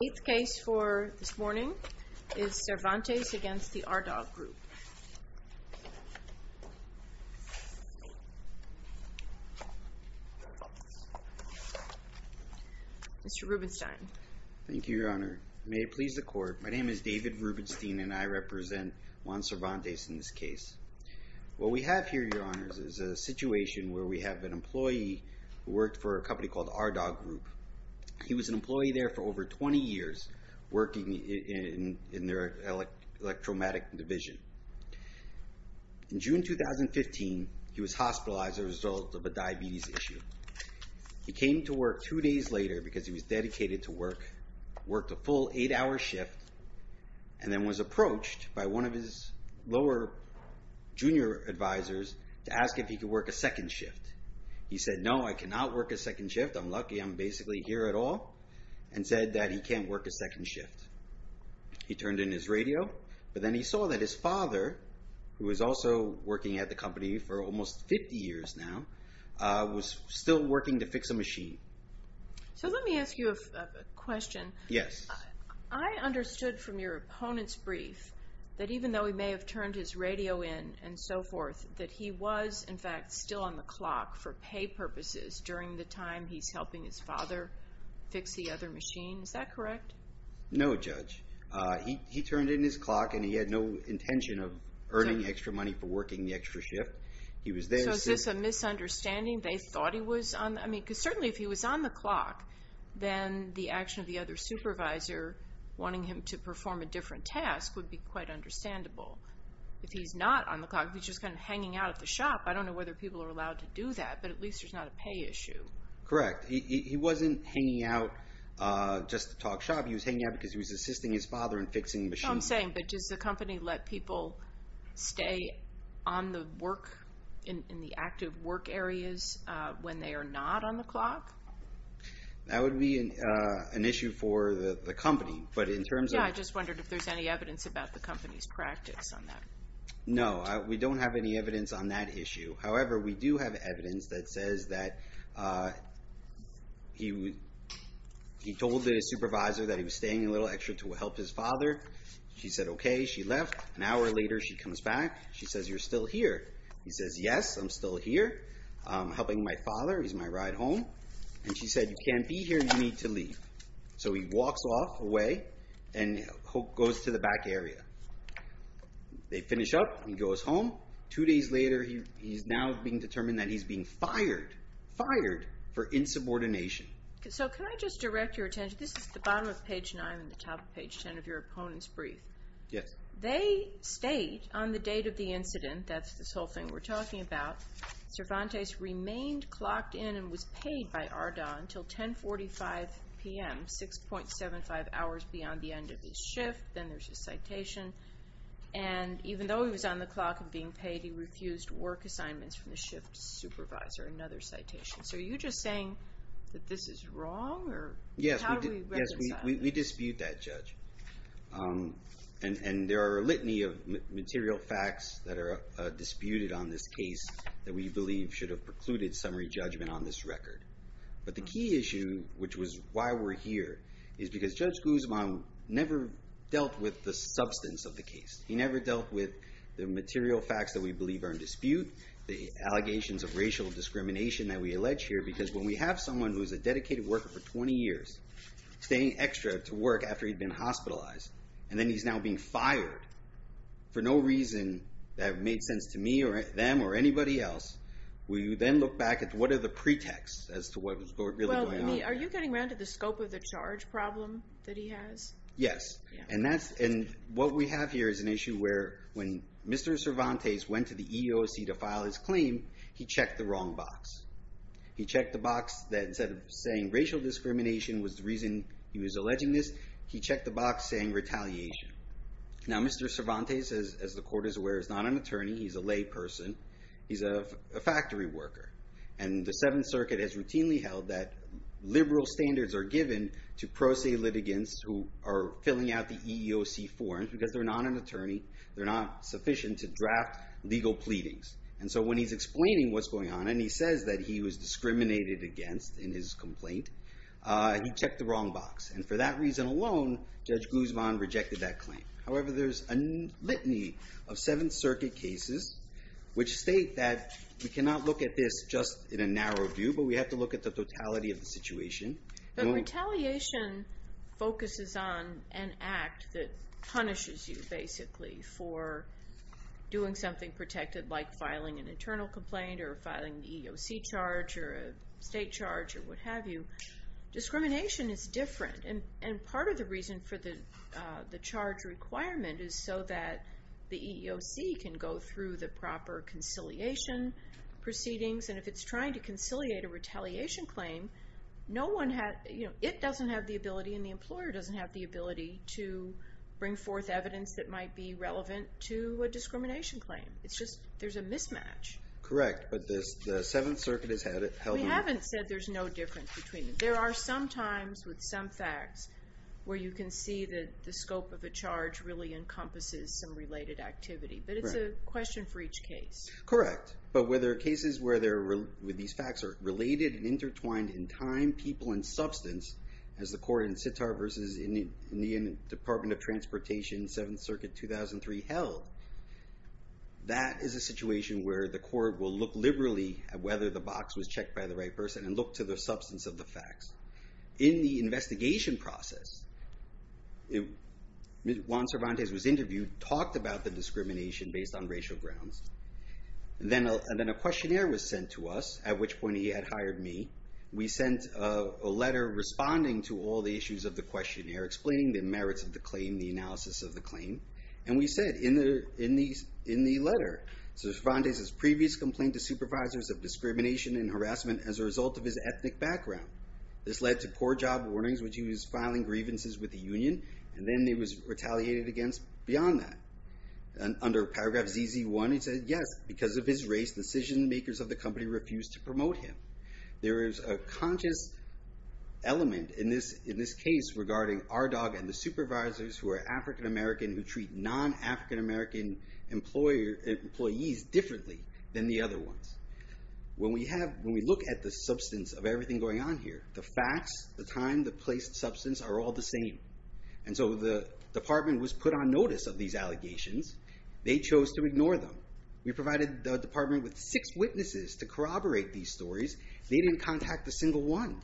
The eighth case for this morning is Cervantes v. Ardagh Group. Mr. Rubenstein. Thank you, Your Honor. May it please the Court, my name is David Rubenstein and I represent Juan Cervantes in this case. What we have here, Your Honors, is a situation where we have an employee who worked for a company called Ardagh Group. He was an employee there for over 20 years working in their electromagic division. In June 2015, he was hospitalized as a result of a diabetes issue. He came to work two days later because he was dedicated to work, worked a full eight-hour shift, and then was approached by one of his lower junior advisors to ask if he could work a second shift. He said, no, I cannot work a second shift, I'm lucky I'm basically here at all, and said that he can't work a second shift. He turned in his radio, but then he saw that his father, who was also working at the company for almost 50 years now, was still working to fix a machine. So let me ask you a question. Yes. I understood from your opponent's brief that even though he may have turned his radio in and so forth, that he was, in fact, still on the clock for pay purposes during the time he's helping his father fix the other machine. Is that correct? No, Judge. He turned in his clock and he had no intention of earning extra money for working the extra shift. So is this a misunderstanding? They thought he was on the clock? Because certainly if he was on the clock, then the action of the other supervisor, wanting him to perform a different task, would be quite understandable. If he's not on the clock, if he's just kind of hanging out at the shop, I don't know whether people are allowed to do that, but at least there's not a pay issue. Correct. He wasn't hanging out just to talk shop. He was hanging out because he was assisting his father in fixing the machine. No, I'm saying, but does the company let people stay on the work, in the active work areas, when they are not on the clock? That would be an issue for the company, but in terms of... No, we don't have any evidence on that issue. However, we do have evidence that says that he told the supervisor that he was staying a little extra to help his father. She said, okay. She left. An hour later, she comes back. She says, you're still here. He says, yes, I'm still here helping my father. He's my ride home. And she said, you can't be here. You need to leave. So he walks off away and goes to the back area. They finish up. He goes home. Two days later, he's now being determined that he's being fired, fired for insubordination. So can I just direct your attention? This is the bottom of page 9 and the top of page 10 of your opponent's brief. Yes. They state on the date of the incident, that's this whole thing we're talking about, Cervantes remained clocked in and was paid by Arda until 10.45 p.m., 6.75 hours beyond the end of his shift. Then there's his citation. And even though he was on the clock and being paid, he refused work assignments from the shift supervisor. Another citation. So are you just saying that this is wrong? Yes, we dispute that, Judge. And there are a litany of material facts that are disputed on this case that we believe should have precluded summary judgment on this record. But the key issue, which was why we're here, is because Judge Guzman never dealt with the substance of the case. He never dealt with the material facts that we believe are in dispute, the allegations of racial discrimination that we allege here. Because when we have someone who's a dedicated worker for 20 years, staying extra to work after he'd been hospitalized, and then he's now being fired for no reason that made sense to me or them or anybody else, we then look back at what are the pretexts as to what was really going on. Are you getting around to the scope of the charge problem that he has? Yes. And what we have here is an issue where when Mr. Cervantes went to the EEOC to file his claim, he checked the wrong box. He checked the box that instead of saying racial discrimination was the reason he was alleging this, he checked the box saying retaliation. Now, Mr. Cervantes, as the court is aware, is not an attorney. He's a layperson. He's a factory worker. And the Seventh Circuit has routinely held that liberal standards are given to pro se litigants who are filling out the EEOC forms because they're not an attorney. They're not sufficient to draft legal pleadings. And so when he's explaining what's going on and he says that he was discriminated against in his complaint, he checked the wrong box. And for that reason alone, Judge Guzman rejected that claim. However, there's a litany of Seventh Circuit cases which state that we cannot look at this just in a narrow view, but we have to look at the totality of the situation. But retaliation focuses on an act that punishes you, basically, for doing something protected like filing an internal complaint or filing the EEOC charge or a state charge or what have you. Discrimination is different. And part of the reason for the charge requirement is so that the EEOC can go through the proper conciliation proceedings. And if it's trying to conciliate a retaliation claim, it doesn't have the ability and the employer doesn't have the ability to bring forth evidence that might be relevant to a discrimination claim. It's just there's a mismatch. Correct. But the Seventh Circuit has held it. We haven't said there's no difference between them. There are some times with some facts where you can see that the scope of a charge really encompasses some related activity. But it's a question for each case. Correct. But where there are cases where these facts are related and intertwined in time, people, and substance, as the court in Sitar versus in the Department of Transportation, Seventh Circuit 2003 held, that is a situation where the court will look liberally at whether the box was checked by the right person and look to the substance of the facts. In the investigation process, Juan Cervantes was interviewed, talked about the discrimination based on racial grounds. And then a questionnaire was sent to us, at which point he had hired me. We sent a letter responding to all the issues of the questionnaire, explaining the merits of the claim, the analysis of the claim. And we said in the letter, Cervantes' previous complaint to supervisors of discrimination and harassment as a result of his ethnic background. This led to core job warnings, which he was filing grievances with the union. And then he was retaliated against beyond that. Under paragraph ZZ1, he said, yes, because of his race, decision makers of the company refused to promote him. There is a conscious element in this case regarding RDOG and the supervisors who are African American, who treat non-African American employees differently than the other ones. When we look at the substance of everything going on here, the facts, the time, the place, the substance are all the same. And so the department was put on notice of these allegations. They chose to ignore them. We provided the department with six witnesses to corroborate these stories. They didn't contact a single one.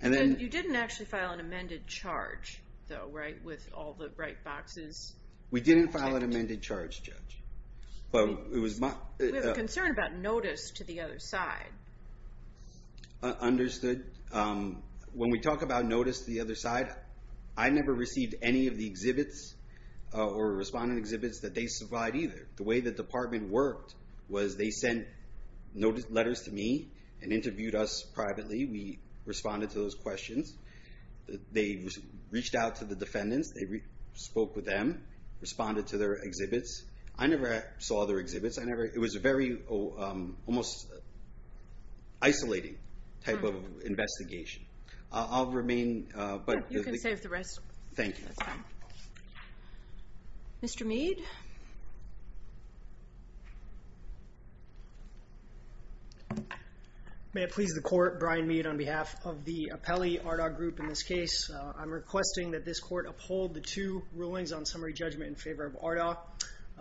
You didn't actually file an amended charge, though, right, with all the bright boxes? We didn't file an amended charge, Judge. We have a concern about notice to the other side. Understood. When we talk about notice to the other side, I never received any of the exhibits or respondent exhibits that they supplied either. The way the department worked was they sent letters to me and interviewed us privately. We responded to those questions. They reached out to the defendants. They spoke with them, responded to their exhibits. I never saw their exhibits. It was a very almost isolating type of investigation. I'll remain. You can save the rest. Thank you. Mr. Mead. May it please the Court, Brian Mead on behalf of the Apelli Ardagh Group in this case. I'm requesting that this Court uphold the two rulings on summary judgment in favor of Ardagh.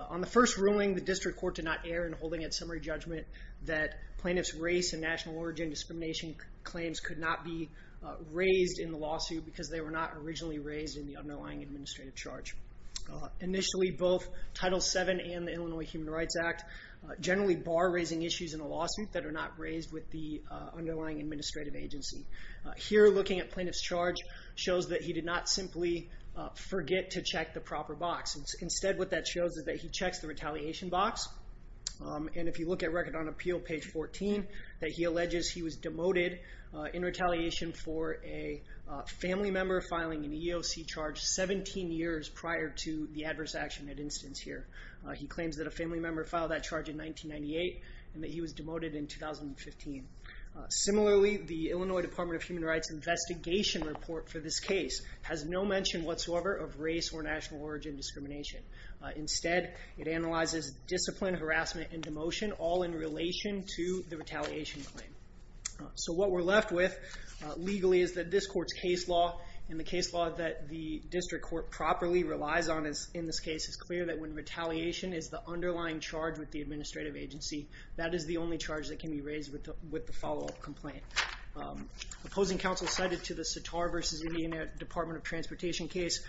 On the first ruling, the district court did not err in holding a summary judgment that plaintiff's race and national origin discrimination claims could not be raised in the lawsuit because they were not originally raised in the underlying administrative charge. Initially, both Title VII and the Illinois Human Rights Act generally bar raising issues in a lawsuit that are not raised with the underlying administrative agency. Here, looking at plaintiff's charge shows that he did not simply forget to check the proper box. Instead, what that shows is that he checks the retaliation box. If you look at Record on Appeal, page 14, that he alleges he was demoted in retaliation for a family member filing an EEOC charge 17 years prior to the adverse action at instance here. He claims that a family member filed that charge in 1998 and that he was demoted in 2015. Similarly, the Illinois Department of Human Rights investigation report for this case has no mention whatsoever of race or national origin discrimination. Instead, it analyzes discipline, harassment, and demotion all in relation to the retaliation claim. What we're left with legally is that this Court's case law, and the case law that the district court properly relies on in this case, is clear that when retaliation is the underlying charge with the administrative agency, that is the only charge that can be raised with the follow-up complaint. Opposing counsel cited to the Sitar v. Indiana Department of Transportation case,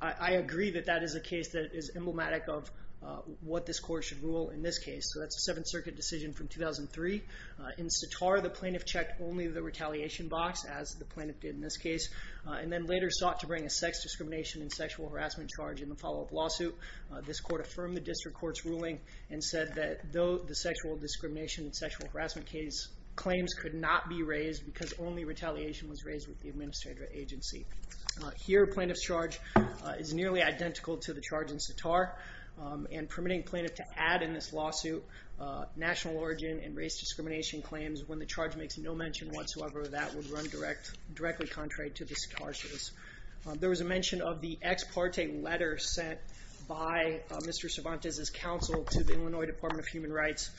I agree that that is a case that is emblematic of what this Court should rule in this case. That's a Seventh Circuit decision from 2003. In Sitar, the plaintiff checked only the retaliation box, as the plaintiff did in this case, and then later sought to bring a sex discrimination and sexual harassment charge in the follow-up lawsuit. This Court affirmed the district court's ruling and said that though the sexual discrimination and sexual harassment case claims could not be raised because only retaliation was raised with the administrative agency. Here, plaintiff's charge is nearly identical to the charge in Sitar, and permitting plaintiff to add in this lawsuit national origin and race discrimination claims when the charge makes no mention whatsoever of that would run directly contrary to the Sitar case. There was a mention of the ex parte letter sent by Mr. Cervantes' counsel to the Illinois Department of Human Rights,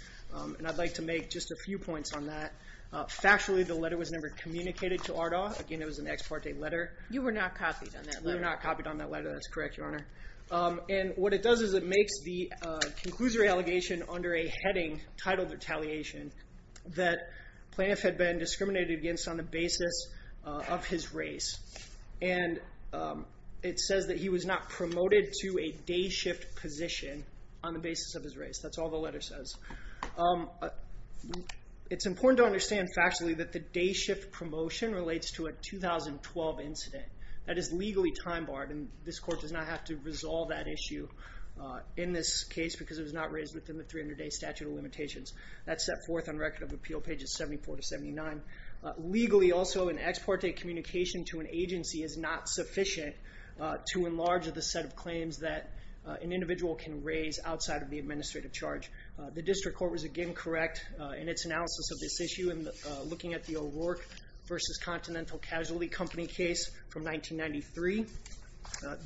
and I'd like to make just a few points on that. Factually, the letter was never communicated to ARDA. Again, it was an ex parte letter. You were not copied on that letter. We were not copied on that letter. That's correct, Your Honor. And what it does is it makes the conclusory allegation under a heading titled retaliation that plaintiff had been discriminated against on the basis of his race, and it says that he was not promoted to a day shift position on the basis of his race. That's all the letter says. It's important to understand factually that the day shift promotion relates to a 2012 incident. That is legally time barred, and this Court does not have to resolve that issue in this case because it was not raised within the 300-day statute of limitations. That's set forth on Record of Appeal, pages 74 to 79. Legally, also, an ex parte communication to an agency is not sufficient to enlarge the set of claims that an individual can raise outside of the administrative charge. The District Court was, again, correct in its analysis of this issue in looking at the O'Rourke v. Continental Casualty Company case from 1993.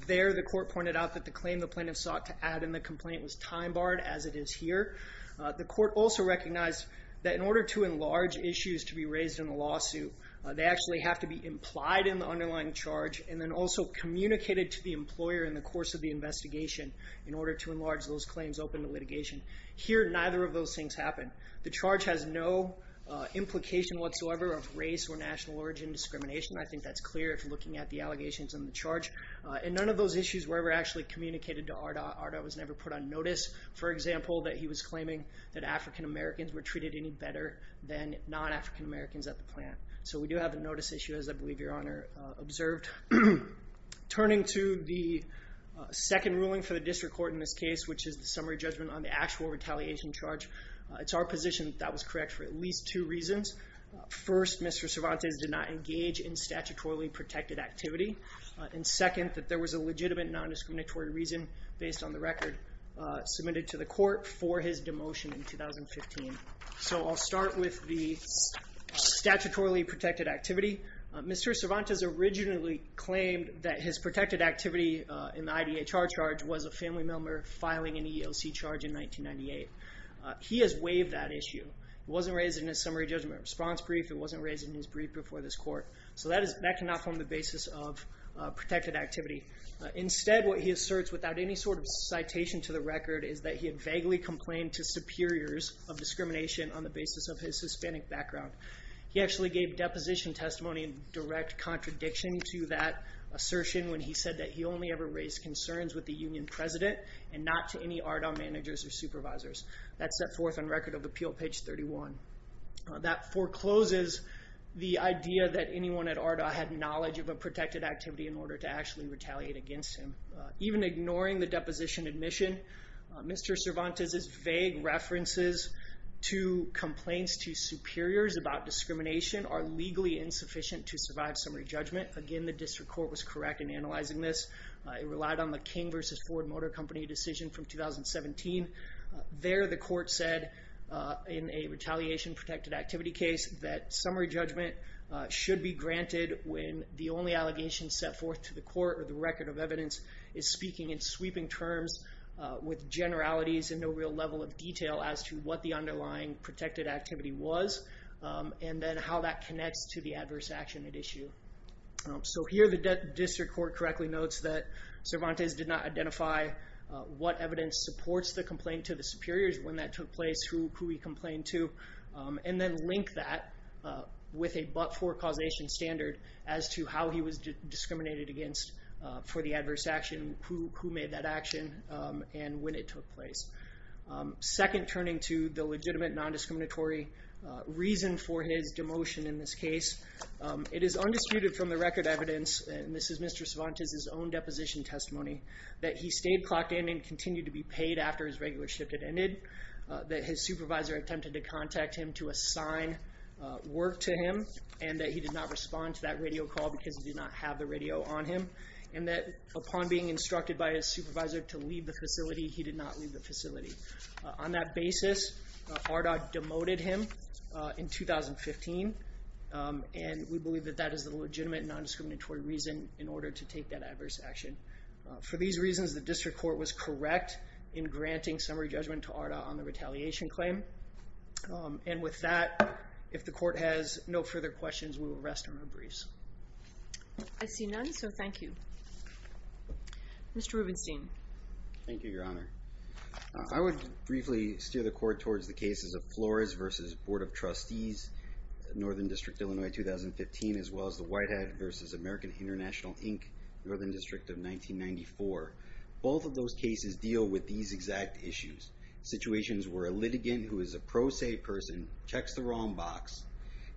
There, the Court pointed out that the claim the plaintiff sought to add in the complaint was time barred, as it is here. The Court also recognized that in order to enlarge issues to be raised in a lawsuit, they actually have to be implied in the underlying charge and then also communicated to the employer in the course of the investigation in order to enlarge those claims open to litigation. Here, neither of those things happened. The charge has no implication whatsoever of race or national origin discrimination. I think that's clear if you're looking at the allegations in the charge. And none of those issues were ever actually communicated to Arda. Arda was never put on notice, for example, that he was claiming that African Americans were treated any better than non-African Americans at the plant. So we do have a notice issue, as I believe Your Honor observed. Turning to the second ruling for the District Court in this case, which is the summary judgment on the actual retaliation charge, it's our position that that was correct for at least two reasons. First, Mr. Cervantes did not engage in statutorily protected activity. And second, that there was a legitimate non-discriminatory reason based on the record submitted to the court for his demotion in 2015. So I'll start with the statutorily protected activity. Mr. Cervantes originally claimed that his protected activity in the IDHR charge was a family member filing an ELC charge in 1998. He has waived that issue. It wasn't raised in his summary judgment response brief. It wasn't raised in his brief before this court. So that cannot form the basis of protected activity. Instead, what he asserts, without any sort of citation to the record, is that he had vaguely complained to superiors of discrimination on the basis of his Hispanic background. He actually gave deposition testimony in direct contradiction to that assertion when he said that he only ever raised concerns with the union president and not to any RDOM managers or supervisors. That's set forth on Record of Appeal, page 31. That forecloses the idea that anyone at ARDA had knowledge of a protected activity in order to actually retaliate against him. Even ignoring the deposition admission, Mr. Cervantes' vague references to complaints to superiors about discrimination are legally insufficient to survive summary judgment. Again, the district court was correct in analyzing this. It relied on the King v. Ford Motor Company decision from 2017. There, the court said, in a retaliation protected activity case, that summary judgment should be granted when the only allegation set forth to the court or the record of evidence is speaking in sweeping terms with generalities and no real level of detail as to what the underlying protected activity was and then how that connects to the adverse action at issue. Here, the district court correctly notes that Cervantes did not identify what evidence supports the complaint to the superiors, when that took place, who he complained to, and then linked that with a but-for causation standard as to how he was discriminated against for the adverse action, who made that action, and when it took place. Second, turning to the legitimate non-discriminatory reason for his demotion in this case, it is undisputed from the record evidence, and this is Mr. Cervantes' own deposition testimony, that he stayed clocked in and continued to be paid after his regular shift had ended, that his supervisor attempted to contact him to assign work to him, and that he did not respond to that radio call because he did not have the radio on him, and that upon being instructed by his supervisor to leave the facility, he did not leave the facility. On that basis, RDOG demoted him in 2015, and we believe that that is the legitimate non-discriminatory reason in order to take that adverse action. For these reasons, the district court was correct in granting summary judgment to RDOG on the retaliation claim, and with that, if the court has no further questions, we will rest on our briefs. I see none, so thank you. Mr. Rubenstein. Thank you, Your Honor. I would briefly steer the court towards the cases of Flores v. Board of Trustees, Northern District, Illinois, 2015, as well as the Whitehead v. American International, Inc., Northern District of 1994. Both of those cases deal with these exact issues, situations where a litigant who is a pro se person checks the wrong box,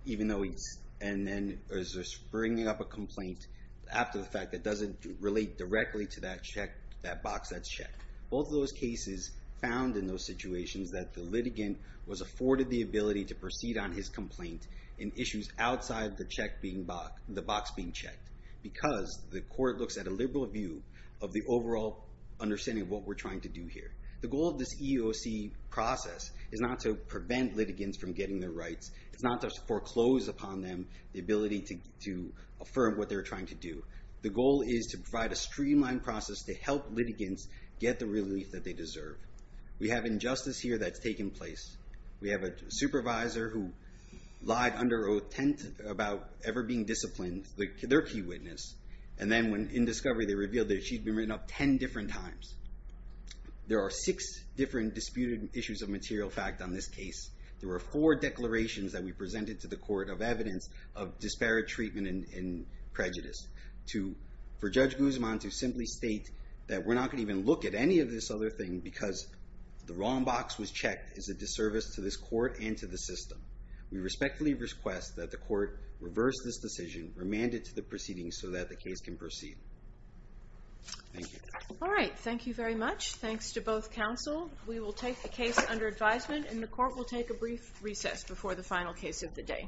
and then is bringing up a complaint after the fact that doesn't relate directly to that box that's checked. Both of those cases found in those situations that the litigant was afforded the ability to proceed on his complaint in issues outside the box being checked because the court looks at a liberal view of the overall understanding of what we're trying to do here. The goal of this EEOC process is not to prevent litigants from getting their rights. It's not to foreclose upon them the ability to affirm what they're trying to do. The goal is to provide a streamlined process to help litigants get the relief that they deserve. We have injustice here that's taken place. We have a supervisor who lied under Oath 10th about ever being disciplined, their key witness, and then in discovery they revealed that she'd been written up 10 different times. There are six different disputed issues of material fact on this case. There were four declarations that we presented to the court of evidence of disparate treatment and prejudice. For Judge Guzman to simply state that we're not going to even look at any of this other thing because the wrong box was checked is a disservice to this court and to the system. We respectfully request that the court reverse this decision, remand it to the proceedings so that the case can proceed. Thank you. All right, thank you very much. Thanks to both counsel. We will take the case under advisement, and the court will take a brief recess before the final case of the day.